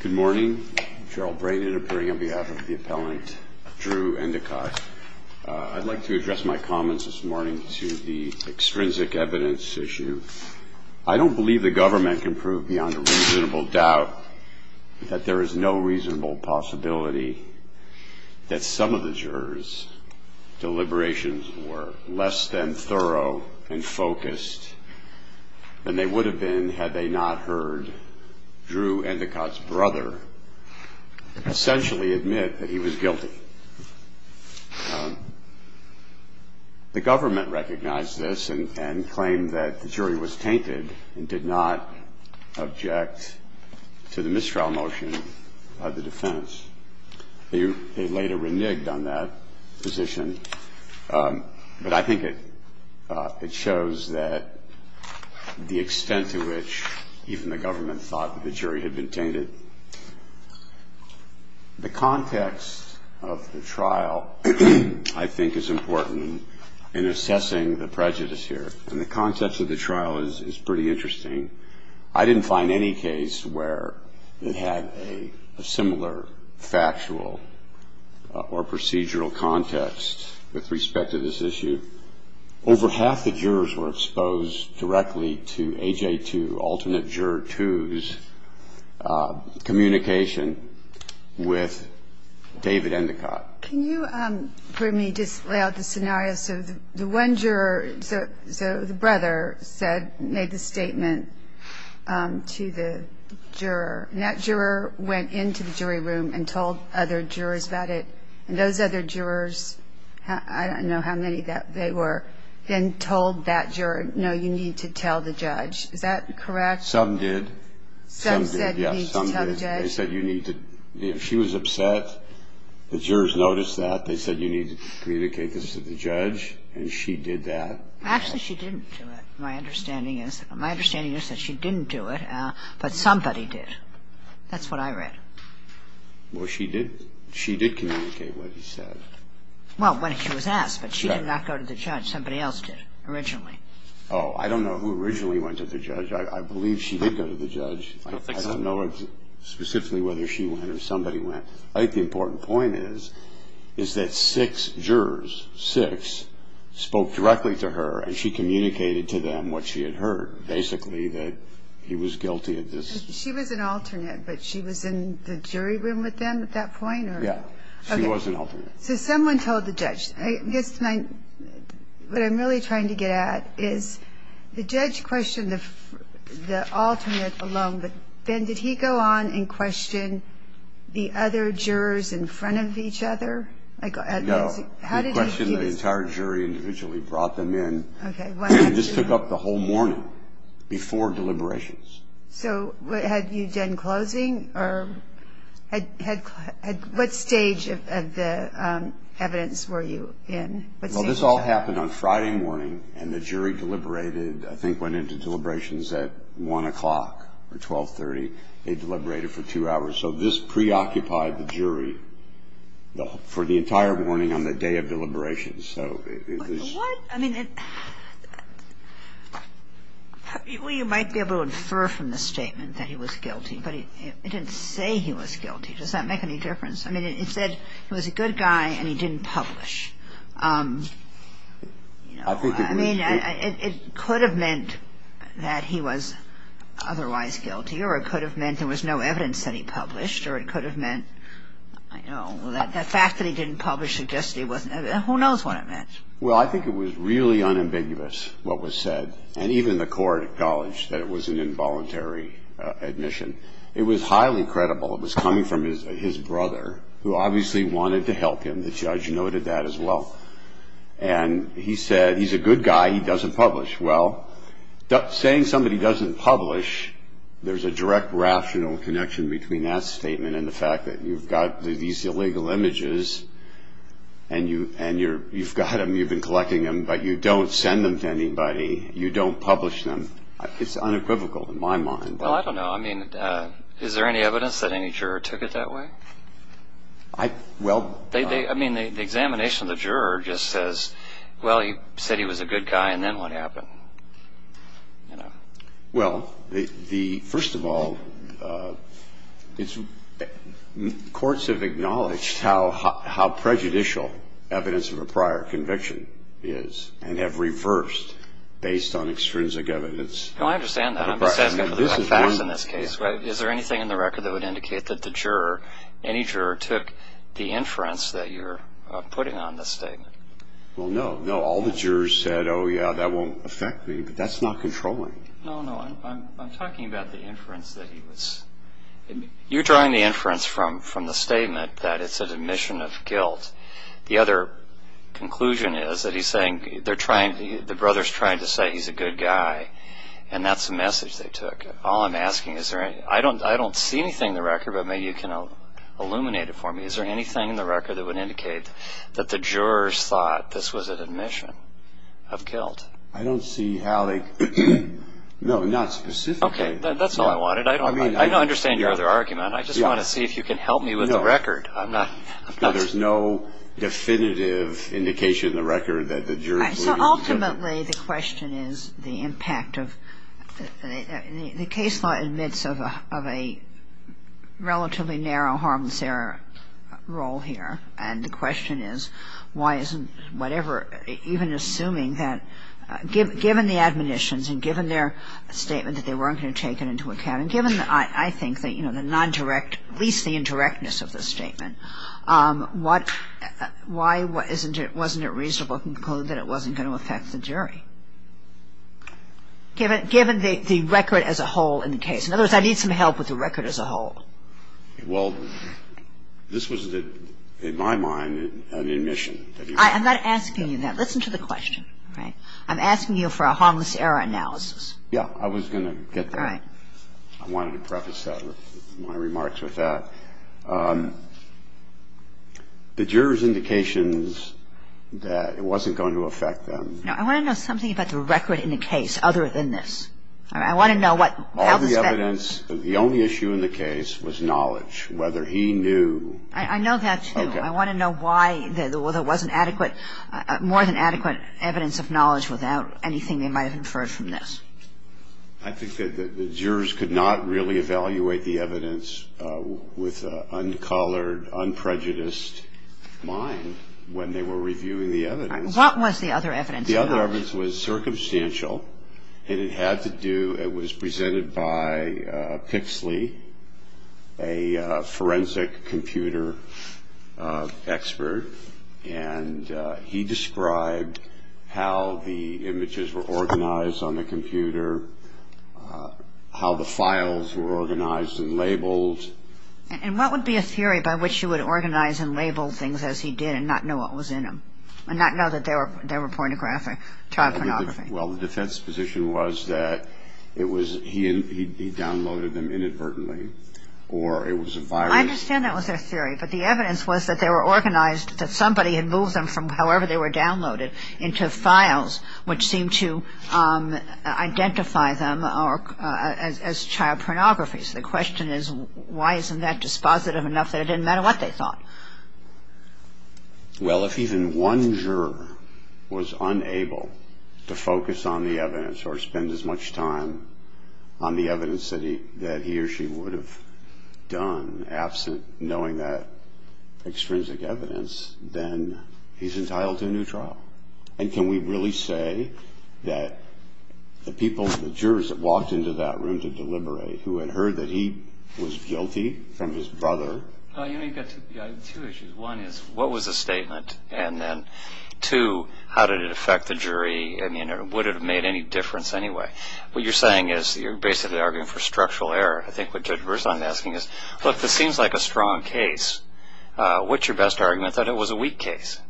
Good morning, Gerald Braden appearing on behalf of the appellant Drew Endacott. I'd like to address my comments this morning to the extrinsic evidence issue. I don't believe the government can prove beyond a reasonable doubt that there is no reasonable possibility that some of the jurors' deliberations were less than thorough and focused than they would have been had they not heard Drew Endacott's brother essentially admit that he was guilty. The government recognized this and claimed that the jury was tainted and did not object to the mistrial motion of the defense. They later reneged on that position. But I think it shows the extent to which even the government thought that the jury had been tainted. The context of the trial, I think, is important in assessing the prejudice here. And the context of the trial is pretty interesting. I didn't find any case where it had a similar factual or procedural context with respect to this issue. Over half the jurors were exposed directly to AJ2, alternate juror twos, communication with David Endacott. Can you for me just lay out the scenario? So the one juror, so the brother said, made the statement to the juror. And that juror went into the jury room and told other jurors about it. And those other jurors, I don't know how many they were, then told that juror, no, you need to tell the judge. Is that correct? Some said you need to tell the judge. She was upset that jurors noticed that. They said you need to communicate this to the judge. And she did that. Actually, she didn't do it, my understanding is. My understanding is that she didn't do it, but somebody did. That's what I read. Well, she did communicate what he said. Well, when he was asked. But she did not go to the judge. Somebody else did, originally. I believe she did go to the judge. I don't know specifically whether she went or somebody went. I think the important point is that six jurors, six, spoke directly to her, and she communicated to them what she had heard, basically, that he was guilty of this. She was an alternate, but she was in the jury room with them at that point? Yeah. She was an alternate. So someone told the judge. What I'm really trying to get at is the judge questioned the alternate alone, but, Ben, did he go on and question the other jurors in front of each other? No. He questioned the entire jury individually, brought them in, and just took up the whole morning before deliberations. So had you done closing? What stage of the evidence were you in? Well, this all happened on Friday morning, and the jury deliberated, I think went into deliberations at 1 o'clock or 1230. They deliberated for two hours. So this preoccupied the jury for the entire morning on the day of deliberations. Well, you might be able to infer from the statement that he was guilty, but it didn't say he was guilty. Does that make any difference? I mean, it said he was a good guy and he didn't publish. I mean, it could have meant that he was otherwise guilty, or it could have meant there was no evidence that he published, or it could have meant, I don't know, the fact that he didn't publish suggests he wasn't. Who knows what it meant. Well, I think it was really unambiguous what was said, and even the court acknowledged that it was an involuntary admission. It was highly credible. It was coming from his brother, who obviously wanted to help him. The judge noted that as well. And he said he's a good guy, he doesn't publish. Well, saying somebody doesn't publish, there's a direct rational connection between that statement and the fact that you've got these illegal images and you've got them, you've been collecting them, but you don't send them to anybody. You don't publish them. It's unequivocal in my mind. Well, I don't know. I mean, is there any evidence that any juror took it that way? I mean, the examination of the juror just says, well, he said he was a good guy and then what happened? Well, first of all, courts have acknowledged how prejudicial evidence of a prior conviction is and have reversed based on extrinsic evidence. No, I understand that. I'm just asking for the facts in this case. Is there anything in the record that would indicate that the juror, any juror took the inference that you're putting on this statement? Well, no. No, all the jurors said, oh, yeah, that won't affect me, but that's not controlling. No, no. I'm talking about the inference that he was. You're drawing the inference from the statement that it's an admission of guilt. The other conclusion is that he's saying they're trying, the brother's trying to say he's a good guy, and that's the message they took. All I'm asking is, I don't see anything in the record, but maybe you can illuminate it for me. Is there anything in the record that would indicate that the jurors thought this was an admission of guilt? I don't see how they, no, not specifically. Okay. That's all I wanted. I don't understand your other argument. I just want to see if you can help me with the record. I'm not. No, there's no definitive indication in the record that the jurors were. The case law admits of a relatively narrow harmless error role here, and the question is why isn't whatever, even assuming that, given the admonitions and given their statement that they weren't going to take it into account, and given, I think, the non-direct, at least the indirectness of the statement, why wasn't it reasonable to conclude that it wasn't going to affect the jury? Given the record as a whole in the case. In other words, I need some help with the record as a whole. Well, this was, in my mind, an admission. I'm not asking you that. Listen to the question. All right. I'm asking you for a harmless error analysis. Yeah. I was going to get that. All right. I wanted to preface my remarks with that. The jurors' indications that it wasn't going to affect them. Now, I want to know something about the record in the case other than this. All right. I want to know how the speck. All the evidence. The only issue in the case was knowledge, whether he knew. I know that, too. Okay. I want to know why there wasn't adequate, more than adequate evidence of knowledge without anything they might have inferred from this. I think that the jurors could not really evaluate the evidence with an uncolored, unprejudiced mind when they were reviewing the evidence. All right. What was the other evidence? The other evidence was circumstantial, and it had to do. It was presented by Pixley, a forensic computer expert, and he described how the images were organized on the computer, how the files were organized and labeled. And what would be a theory by which you would organize and label things as he did and not know what was in them and not know that they were pornographic, child pornography? Well, the defense position was that it was he downloaded them inadvertently or it was a virus. I understand that was their theory, but the evidence was that they were organized that somebody had moved them from however they were downloaded into files which seemed to identify them as child pornography. So the question is why isn't that dispositive enough that it didn't matter what they thought? Well, if even one juror was unable to focus on the evidence or spend as much time on the evidence that he or she would have done absent knowing that extrinsic evidence, then he's entitled to a new trial. And can we really say that the people, the jurors that walked into that room to deliberate, who had heard that he was guilty from his brother? You know, you've got two issues. One is what was the statement? And then two, how did it affect the jury? I mean, would it have made any difference anyway? What you're saying is you're basically arguing for structural error. I think what Judge Burson is asking is, look, this seems like a strong case. What's your best argument that it was a weak case?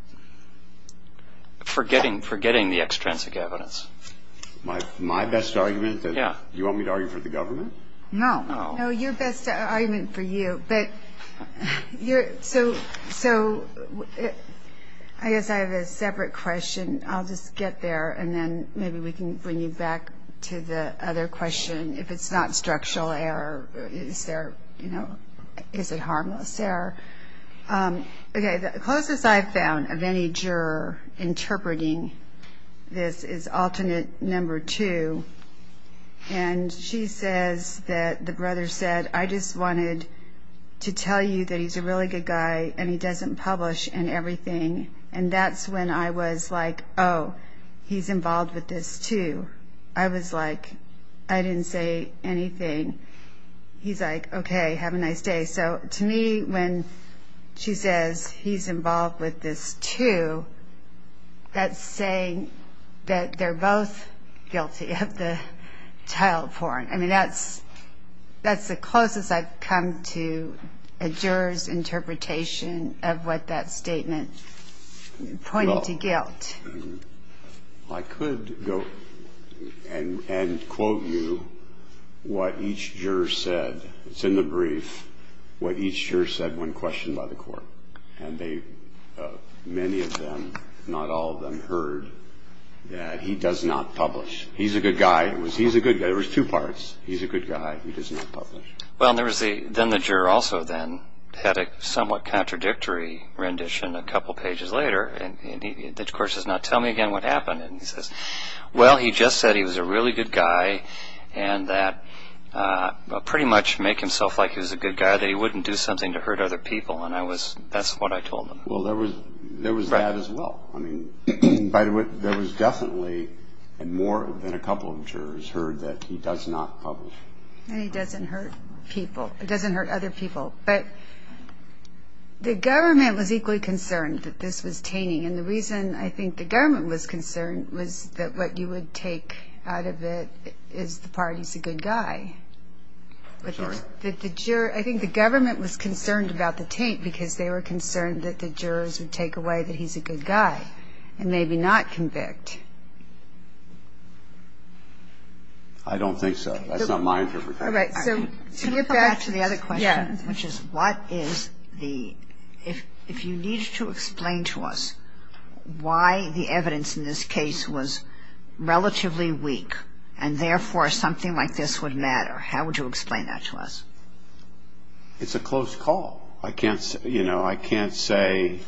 Forgetting the extrinsic evidence. My best argument? Yeah. You want me to argue for the government? No. No, your best argument for you. But so I guess I have a separate question. I'll just get there, and then maybe we can bring you back to the other question. If it's not structural error, is there, you know, is it harmless error? Okay, the closest I've found of any juror interpreting this is alternate number two. And she says that the brother said, I just wanted to tell you that he's a really good guy and he doesn't publish and everything. And that's when I was like, oh, he's involved with this too. I was like, I didn't say anything. He's like, okay, have a nice day. So to me, when she says he's involved with this too, that's saying that they're both guilty of the child porn. I mean, that's the closest I've come to a juror's interpretation of what that statement pointed to guilt. I could go and quote you what each juror said. It's in the brief what each juror said when questioned by the court. And many of them, not all of them, heard that he does not publish. He's a good guy. He's a good guy. There was two parts. He's a good guy. He does not publish. Well, then the juror also then had a somewhat contradictory rendition a couple pages later. And he, of course, does not tell me again what happened. And he says, well, he just said he was a really good guy and that pretty much make himself like he was a good guy, that he wouldn't do something to hurt other people. And that's what I told him. Well, there was that as well. I mean, by the way, there was definitely more than a couple of jurors heard that he does not publish. And he doesn't hurt people. He doesn't hurt other people. But the government was equally concerned that this was tainting. And the reason I think the government was concerned was that what you would take out of it is the part he's a good guy. I think the government was concerned about the taint because they were concerned that the jurors would take away that he's a good guy and maybe not convict. I don't think so. That's not my interpretation. All right. Can we go back to the other question, which is what is the ‑‑ if you need to explain to us why the evidence in this case was relatively weak and, therefore, something like this would matter, how would you explain that to us? It's a close call. I can't say, you know, I can't say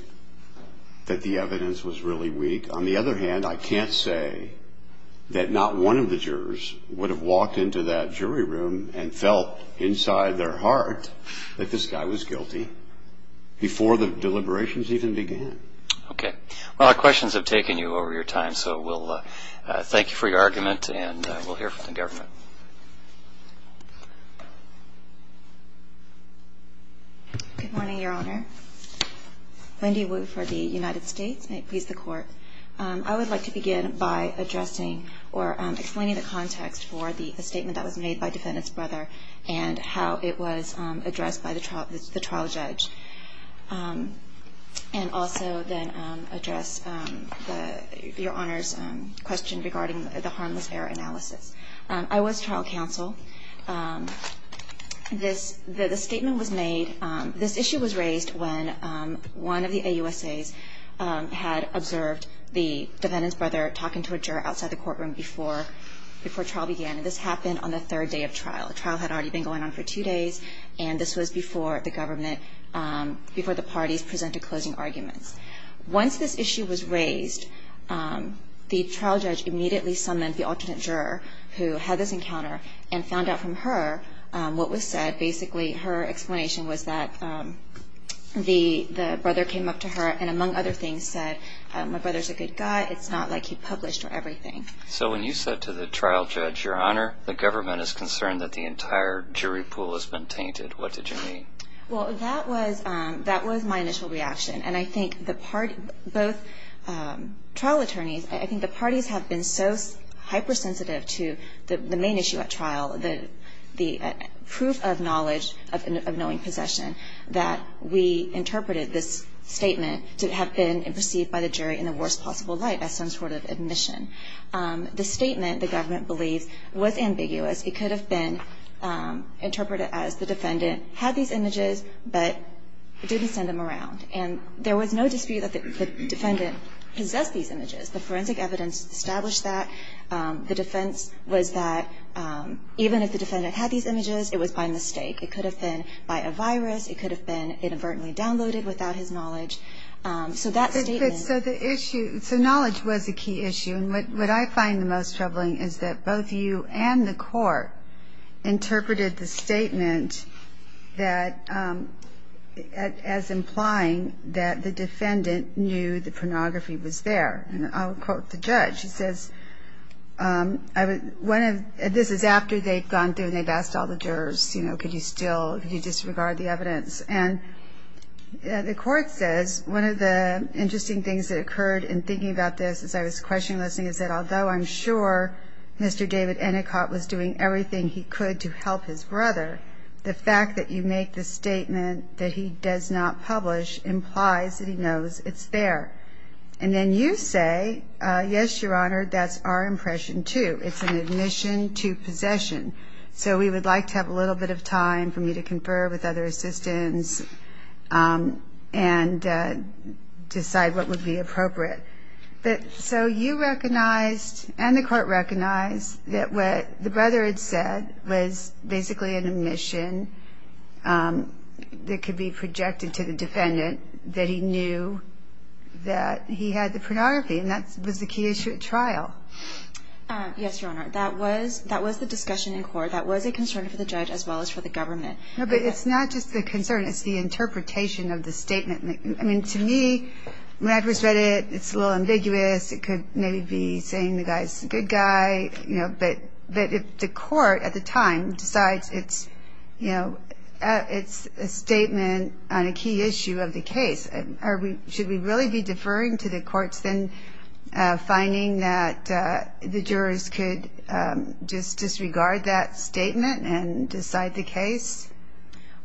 that the evidence was really weak. On the other hand, I can't say that not one of the jurors would have walked into that jury room and felt inside their heart that this guy was guilty before the deliberations even began. Okay. Well, our questions have taken you over your time, so we'll thank you for your argument, and we'll hear from the government. Good morning, Your Honor. Wendy Wu for the United States. May it please the Court. I would like to begin by addressing or explaining the context for the statement that was made by Defendant's brother and how it was addressed by the trial judge, and also then address Your Honor's question regarding the harmless error analysis. I was trial counsel. The statement was made, this issue was raised when one of the AUSAs had observed the Defendant's brother talking to a juror outside the courtroom before trial began, and this happened on the third day of trial. The trial had already been going on for two days, and this was before the government, before the parties presented closing arguments. Once this issue was raised, the trial judge immediately summoned the alternate juror who had this encounter and found out from her what was said. Basically, her explanation was that the brother came up to her and, among other things, said, My brother's a good guy. It's not like he published or everything. So when you said to the trial judge, Your Honor, the government is concerned that the entire jury pool has been tainted, what did you mean? Well, that was my initial reaction, and I think the parties, both trial attorneys, I think the parties have been so hypersensitive to the main issue at trial, the proof of knowledge of knowing possession, that we interpreted this statement to have been perceived by the jury in the worst possible light as some sort of admission. The statement, the government believes, was ambiguous. It could have been interpreted as the Defendant had these images but didn't send them around. And there was no dispute that the Defendant possessed these images. The forensic evidence established that. The defense was that even if the Defendant had these images, it was by mistake. It could have been by a virus. It could have been inadvertently downloaded without his knowledge. So that statement was the issue. So knowledge was a key issue. And what I find the most troubling is that both you and the Court interpreted the statement as implying that the Defendant knew the pornography was there. And I'll quote the judge. He says, this is after they'd gone through and they'd asked all the jurors, you know, could you still, could you disregard the evidence. And the Court says, one of the interesting things that occurred in thinking about this as I was questioning this thing is that although I'm sure Mr. David Anikot was doing everything he could to help his brother, the fact that you make the statement that he does not publish implies that he knows it's there. And then you say, yes, Your Honor, that's our impression too. It's an admission to possession. So we would like to have a little bit of time for me to confer with other assistants and decide what would be appropriate. So you recognized and the Court recognized that what the brother had said was basically an admission that could be projected to the Defendant that he knew that he had the pornography. And that was the key issue at trial. Yes, Your Honor. That was the discussion in court. That was a concern for the judge as well as for the government. No, but it's not just the concern. It's the interpretation of the statement. I mean, to me, when I first read it, it's a little ambiguous. It could maybe be saying the guy's a good guy. But if the court at the time decides it's a statement on a key issue of the case, should we really be deferring to the courts then finding that the jurors could just disregard that statement and decide the case?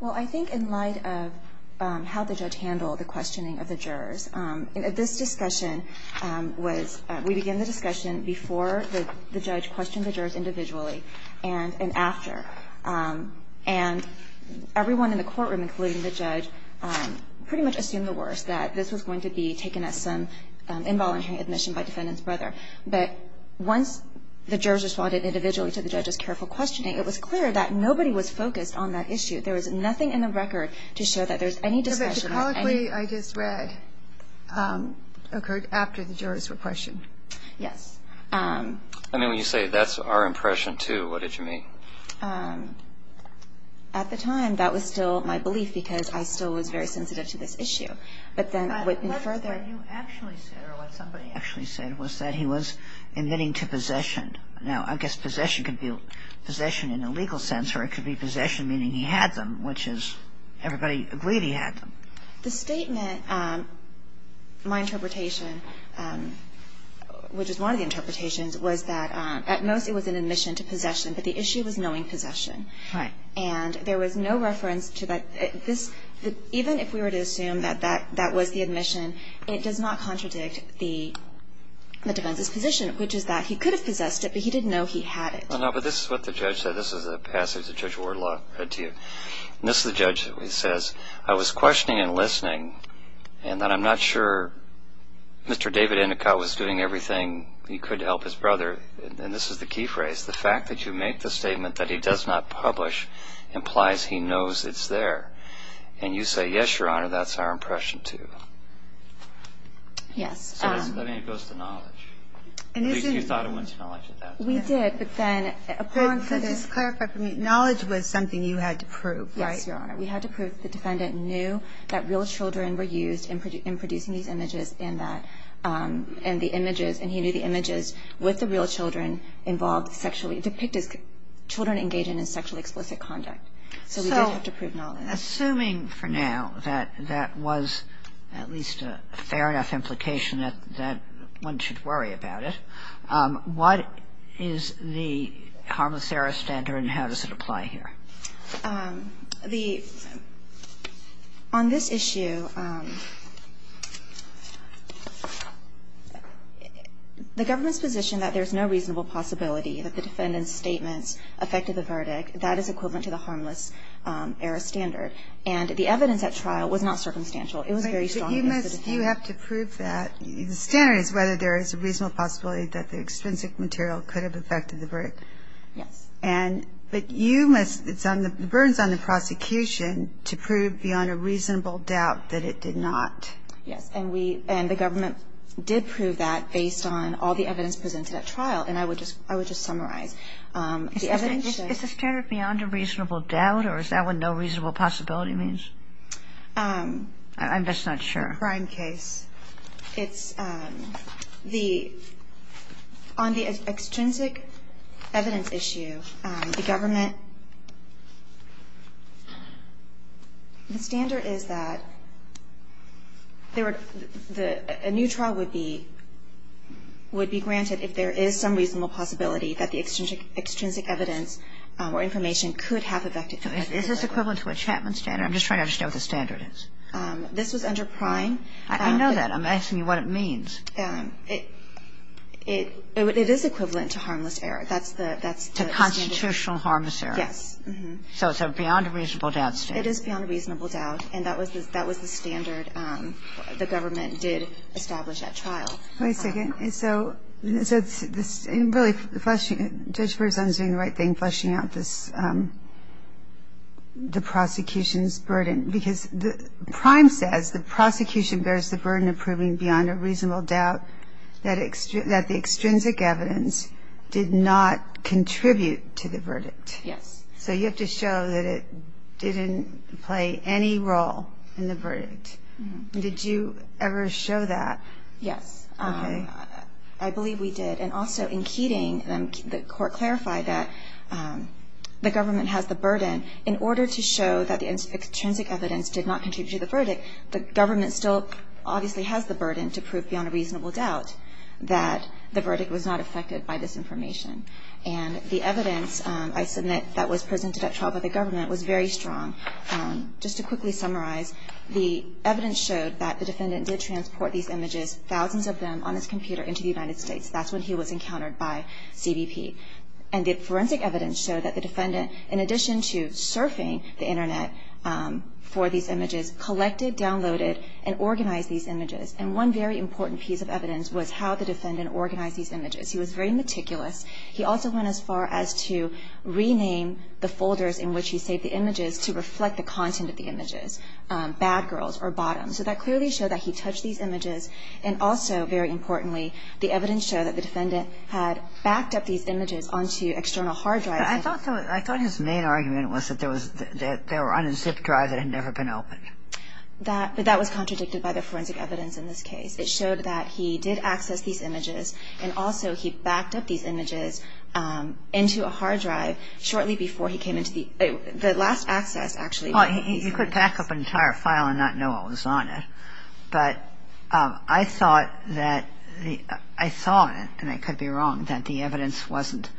Well, I think in light of how the judge handled the questioning of the jurors, this discussion was we began the discussion before the judge questioned the jurors individually and after. And everyone in the courtroom, including the judge, pretty much assumed the worst, that this was going to be taken as some involuntary admission by Defendant's brother. But once the jurors responded individually to the judge's careful questioning, it was clear that nobody was focused on that issue. There was nothing in the record to show that there's any discussion on any of that. But the colloquy I just read occurred after the jurors were questioned. Yes. I mean, when you say that's our impression, too, what did you mean? At the time, that was still my belief because I still was very sensitive to this issue. But then further you actually said, or what somebody actually said, was that he was admitting to possession. Now, I guess possession could be possession in a legal sense, or it could be possession meaning he had them, which is everybody agreed he had them. The statement, my interpretation, which is one of the interpretations, was that at most it was an admission to possession, but the issue was knowing possession. Right. And there was no reference to that. Even if we were to assume that that was the admission, it does not contradict the defense's position, which is that he could have possessed it, but he didn't know he had it. No, but this is what the judge said. This is a passage that Judge Wardlaw read to you. And this is the judge that says, I was questioning and listening, and that I'm not sure Mr. David Endicott was doing everything he could to help his brother. And this is the key phrase. The fact that you make the statement that he does not publish implies he knows it's there. And you say, yes, Your Honor, that's our impression, too. Yes. So that goes to knowledge. At least you thought it went to knowledge at that point. We did, but then according to the Just clarify for me. Knowledge was something you had to prove. Yes, Your Honor. We had to prove the defendant knew that real children were used in producing these images and that the images, and he knew the images with the real children involved sexually, depicted children engaging in sexually explicit conduct. So we did have to prove knowledge. Assuming for now that that was at least a fair enough implication that one should worry about it, what is the harmless error standard and how does it apply here? The – on this issue, the government's position that there's no reasonable possibility that the defendant's statements affected the verdict, that is equivalent to the harmless error standard. And the evidence at trial was not circumstantial. It was very strong against the defendant. But you must – you have to prove that. The standard is whether there is a reasonable possibility that the extrinsic material could have affected the verdict. Yes. And – but you must – the burden's on the prosecution to prove beyond a reasonable doubt that it did not. Yes. And I would just – I would just summarize. The evidence – Is the standard beyond a reasonable doubt or is that what no reasonable possibility means? I'm just not sure. The crime case. It's the – on the extrinsic evidence issue, the government – the standard is that there a new trial would be – would be granted if there is some reasonable possibility that the extrinsic evidence or information could have affected the verdict. Is this equivalent to a Chapman standard? I'm just trying to understand what the standard is. This was under Prime. I know that. I'm asking you what it means. It – it is equivalent to harmless error. That's the standard. To constitutional harmless error. Yes. So it's a beyond a reasonable doubt standard. It is beyond a reasonable doubt. And that was the – that was the standard the government did establish at trial. Wait a second. So – so this – really, the question – Judge Burson is doing the right thing, fleshing out this – the prosecution's burden. Because the – Prime says the prosecution bears the burden of proving beyond a reasonable doubt that the extrinsic evidence did not contribute to the verdict. Yes. So you have to show that it didn't play any role in the verdict. Did you ever show that? Yes. Okay. I believe we did. And also in Keating, the court clarified that the government has the burden. In order to show that the extrinsic evidence did not contribute to the verdict, the government still obviously has the burden to prove beyond a reasonable doubt that the verdict was not affected by this information. And the evidence I submit that was presented at trial by the government was very strong. Just to quickly summarize, the evidence showed that the defendant did transport these images, thousands of them, on his computer into the United States. That's when he was encountered by CBP. And the forensic evidence showed that the defendant, in addition to surfing the Internet for these images, collected, downloaded, and organized these images. And one very important piece of evidence was how the defendant organized these images. He was very meticulous. He also went as far as to rename the folders in which he saved the images to reflect the content of the images, bad girls or bottoms. So that clearly showed that he touched these images. And also, very importantly, the evidence showed that the defendant had backed up these images onto external hard drives. I thought his main argument was that they were on a zip drive that had never been opened. That was contradicted by the forensic evidence in this case. It showed that he did access these images. And also, he backed up these images into a hard drive shortly before he came into the last access, actually. Well, you could back up an entire file and not know what was on it. But I thought that the – I thought, and I could be wrong, that the evidence wasn't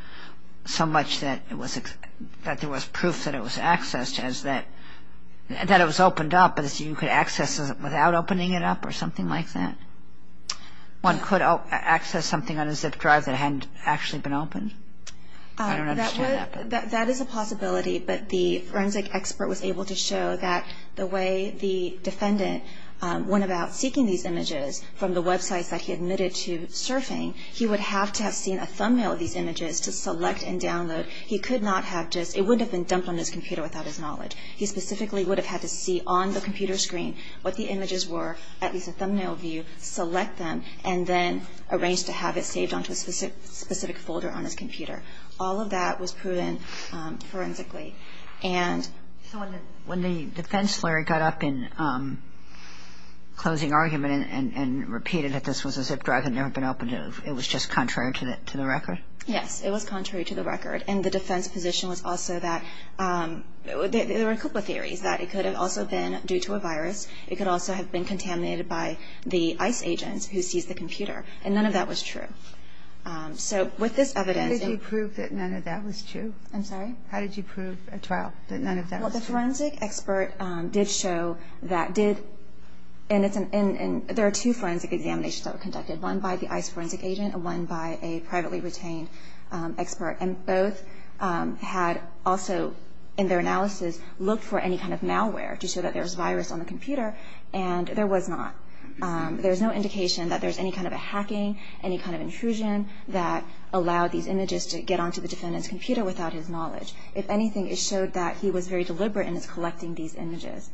so much that it was – that there was proof that it was accessed as that – that it was opened up, without opening it up or something like that. One could access something on a zip drive that hadn't actually been opened. I don't understand that. That is a possibility. But the forensic expert was able to show that the way the defendant went about seeking these images from the websites that he admitted to surfing, he would have to have seen a thumbnail of these images to select and download. He could not have just – it wouldn't have been dumped on his computer without his knowledge. He specifically would have had to see on the computer screen what the images were, at least a thumbnail view, select them, and then arrange to have it saved onto a specific folder on his computer. All of that was proven forensically. And – So when the defense lawyer got up in closing argument and repeated that this was a zip drive that had never been opened, it was just contrary to the record? Yes. It was contrary to the record. And the defense position was also that – there were a couple of theories, that it could have also been due to a virus. It could also have been contaminated by the ICE agent who seized the computer. And none of that was true. So with this evidence – How did you prove that none of that was true? I'm sorry? How did you prove at trial that none of that was true? Well, the forensic expert did show that – did – and it's – and there are two forensic examinations that were conducted, one by the ICE forensic agent and one by a privately retained expert. And both had also, in their analysis, looked for any kind of malware to show that there was virus on the computer, and there was not. There was no indication that there was any kind of a hacking, any kind of intrusion, that allowed these images to get onto the defendant's computer without his knowledge. If anything, it showed that he was very deliberate in his collecting these images.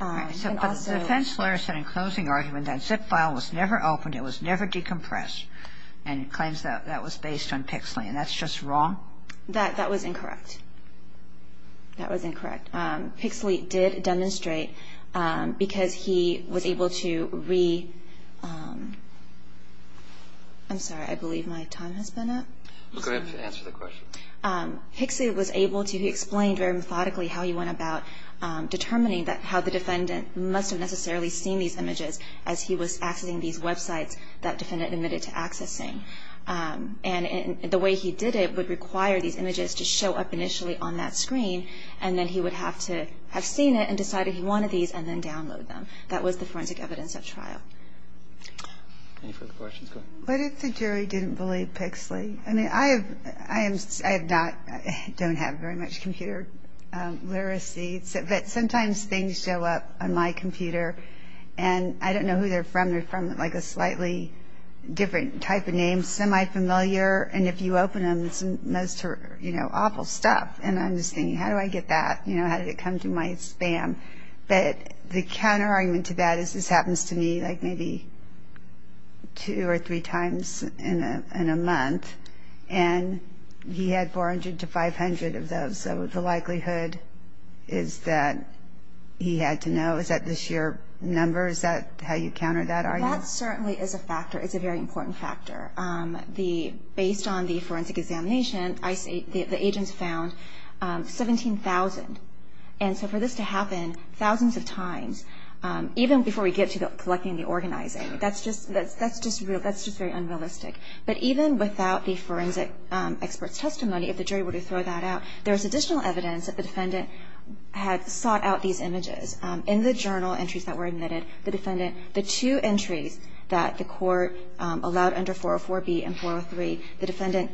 And also – But the defense lawyer said in closing argument that zip file was never opened, it was never decompressed, and claims that that was based on Pixley. And that's just wrong? That – that was incorrect. That was incorrect. Pixley did demonstrate, because he was able to re – I'm sorry. I believe my time has been up. Go ahead and answer the question. Pixley was able to – he explained very methodically how he went about determining that how the defendant must have necessarily seen these images as he was accessing these websites that defendant admitted to accessing. And the way he did it would require these images to show up initially on that screen, and then he would have to have seen it and decided he wanted these and then download them. That was the forensic evidence of trial. Any further questions? Go ahead. What if the jury didn't believe Pixley? I mean, I have – I am – I have not – don't have very much computer literacy, but sometimes things show up on my computer, and I don't know who they're from. They're from, like, a slightly different type of name, semi-familiar. And if you open them, it's most – you know, awful stuff. And I'm just thinking, how do I get that? You know, how did it come to my spam? But the counterargument to that is this happens to me, like, maybe two or three times in a – in a month. And he had 400 to 500 of those, so the likelihood is that he had to know, is that the sheer number? Is that how you counter that argument? That certainly is a factor. It's a very important factor. The – based on the forensic examination, the agents found 17,000. And so for this to happen thousands of times, even before we get to collecting the organizing, that's just – that's just – that's just very unrealistic. But even without the forensic expert's testimony, if the jury were to throw that out, there's additional evidence that the defendant had sought out these images. In the journal entries that were admitted, the defendant – the two entries that the court allowed under 404B and 403, the defendant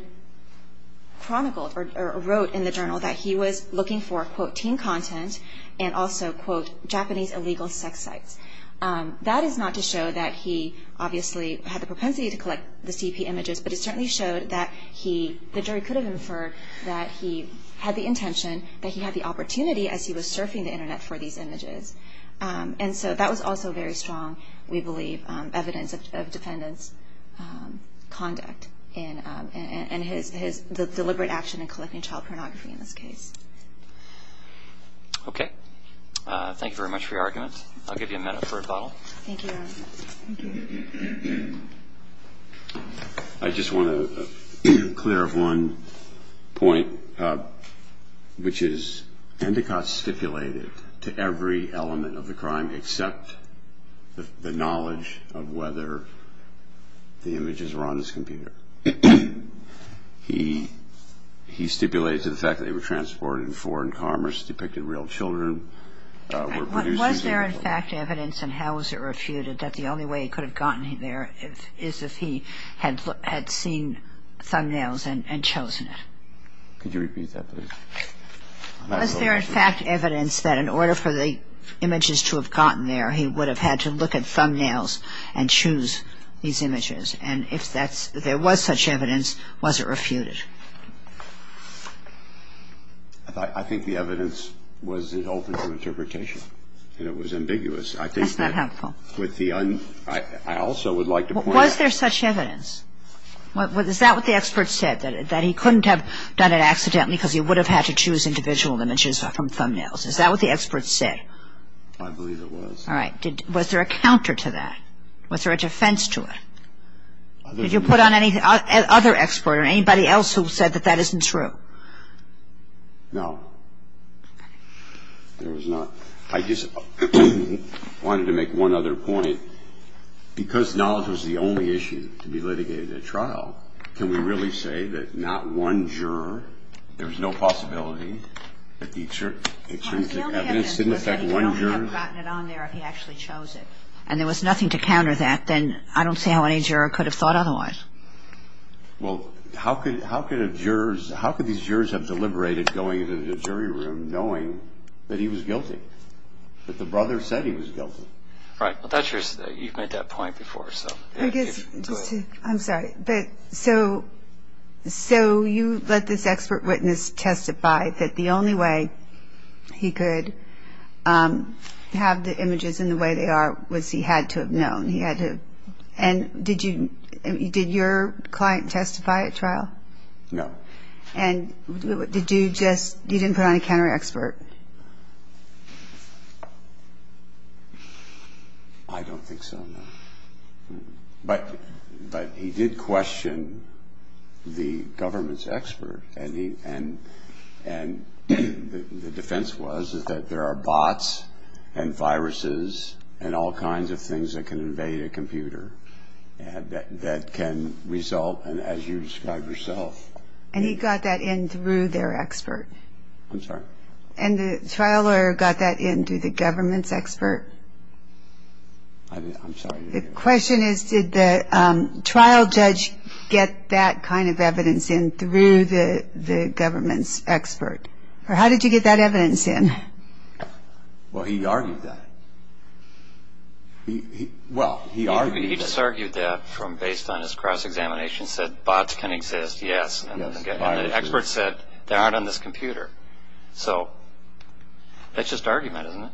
chronicled or wrote in the journal that he was looking for, quote, teen content and also, quote, Japanese illegal sex sites. That is not to show that he obviously had the propensity to collect the CP images, but it certainly showed that he – the jury could have inferred that he had the intention, that he had the opportunity as he was surfing the Internet for these images. And so that was also very strong, we believe, evidence of defendant's conduct and his – the deliberate action in collecting child pornography in this case. Okay. Thank you very much for your argument. I'll give you a minute for a follow-up. Thank you, Your Honor. I just want to clear up one point, which is Endicott stipulated to every element of the crime except the knowledge of whether the images were on his computer. He stipulated to the fact that they were transported in foreign commerce, depicted real children, were produced using – Was there, in fact, evidence and how was it refuted that the only way he could have gotten there is if he had seen thumbnails and chosen it? Could you repeat that, please? Was there, in fact, evidence that in order for the images to have gotten there, he would have had to look at thumbnails and choose these images? And if that's – if there was such evidence, was it refuted? I think the evidence was open to interpretation, and it was ambiguous. That's not helpful. I think that with the – I also would like to point out – Was there such evidence? Is that what the expert said, that he couldn't have done it accidentally because he would have had to choose individual images from thumbnails? Is that what the expert said? I believe it was. All right. Was there a counter to that? Was there a defense to it? Did you put on any – other expert or anybody else who said that that isn't true? No. There was not. I just wanted to make one other point. Because knowledge was the only issue to be litigated at trial, can we really say that not one juror – there was no possibility that the extremistic evidence didn't affect one juror? If he actually chose it and there was nothing to counter that, then I don't see how any juror could have thought otherwise. Well, how could a juror – how could these jurors have deliberated going into the jury room knowing that he was guilty, that the brother said he was guilty? Right. You've made that point before, so. I'm sorry. So you let this expert witness testify that the only way he could have the images in the way they are was he had to have known. He had to – and did you – did your client testify at trial? No. And did you just – you didn't put on a counter expert? I don't think so, no. But he did question the government's expert, and the defense was that there are bots and viruses and all kinds of things that can invade a computer that can result in, as you described yourself – And he got that in through their expert? I'm sorry? The question is, did the trial judge get that kind of evidence in through the government's expert? Or how did you get that evidence in? Well, he argued that. Well, he argued that. He just argued that based on his cross-examination, said bots can exist, yes. And the expert said they aren't on this computer. So that's just argument, isn't it?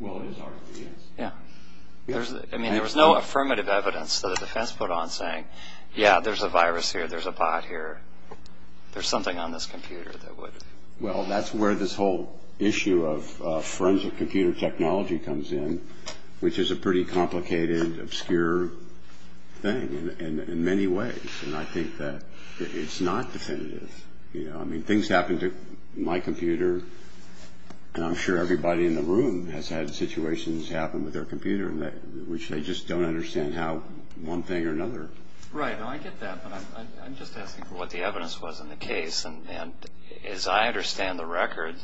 Well, it is argument, yes. Yeah. I mean, there was no affirmative evidence that the defense put on saying, yeah, there's a virus here, there's a bot here, there's something on this computer that would – Well, that's where this whole issue of forensic computer technology comes in, which is a pretty complicated, obscure thing in many ways. And I think that it's not definitive. I mean, things happen to my computer, and I'm sure everybody in the room has had situations happen with their computer in which they just don't understand how one thing or another – Right. Now, I get that, but I'm just asking for what the evidence was in the case. And as I understand the record,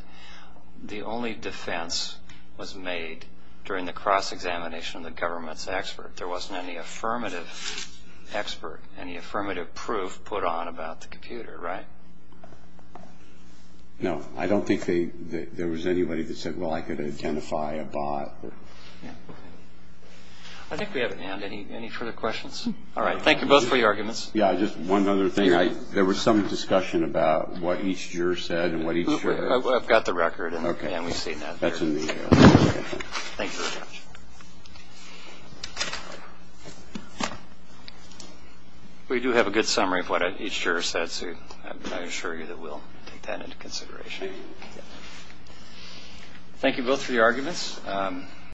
the only defense was made during the cross-examination of the government's expert. There wasn't any affirmative expert, any affirmative proof put on about the computer, right? No. I don't think there was anybody that said, well, I could identify a bot. I think we have an end. Any further questions? All right. Thank you both for your arguments. Yeah. Just one other thing. There was some discussion about what each juror said and what each juror – I've got the record, and we've seen that. Okay. That's in the – Thank you very much. We do have a good summary of what each juror said, so I assure you that we'll take that into consideration. Thank you. Thank you both for your arguments.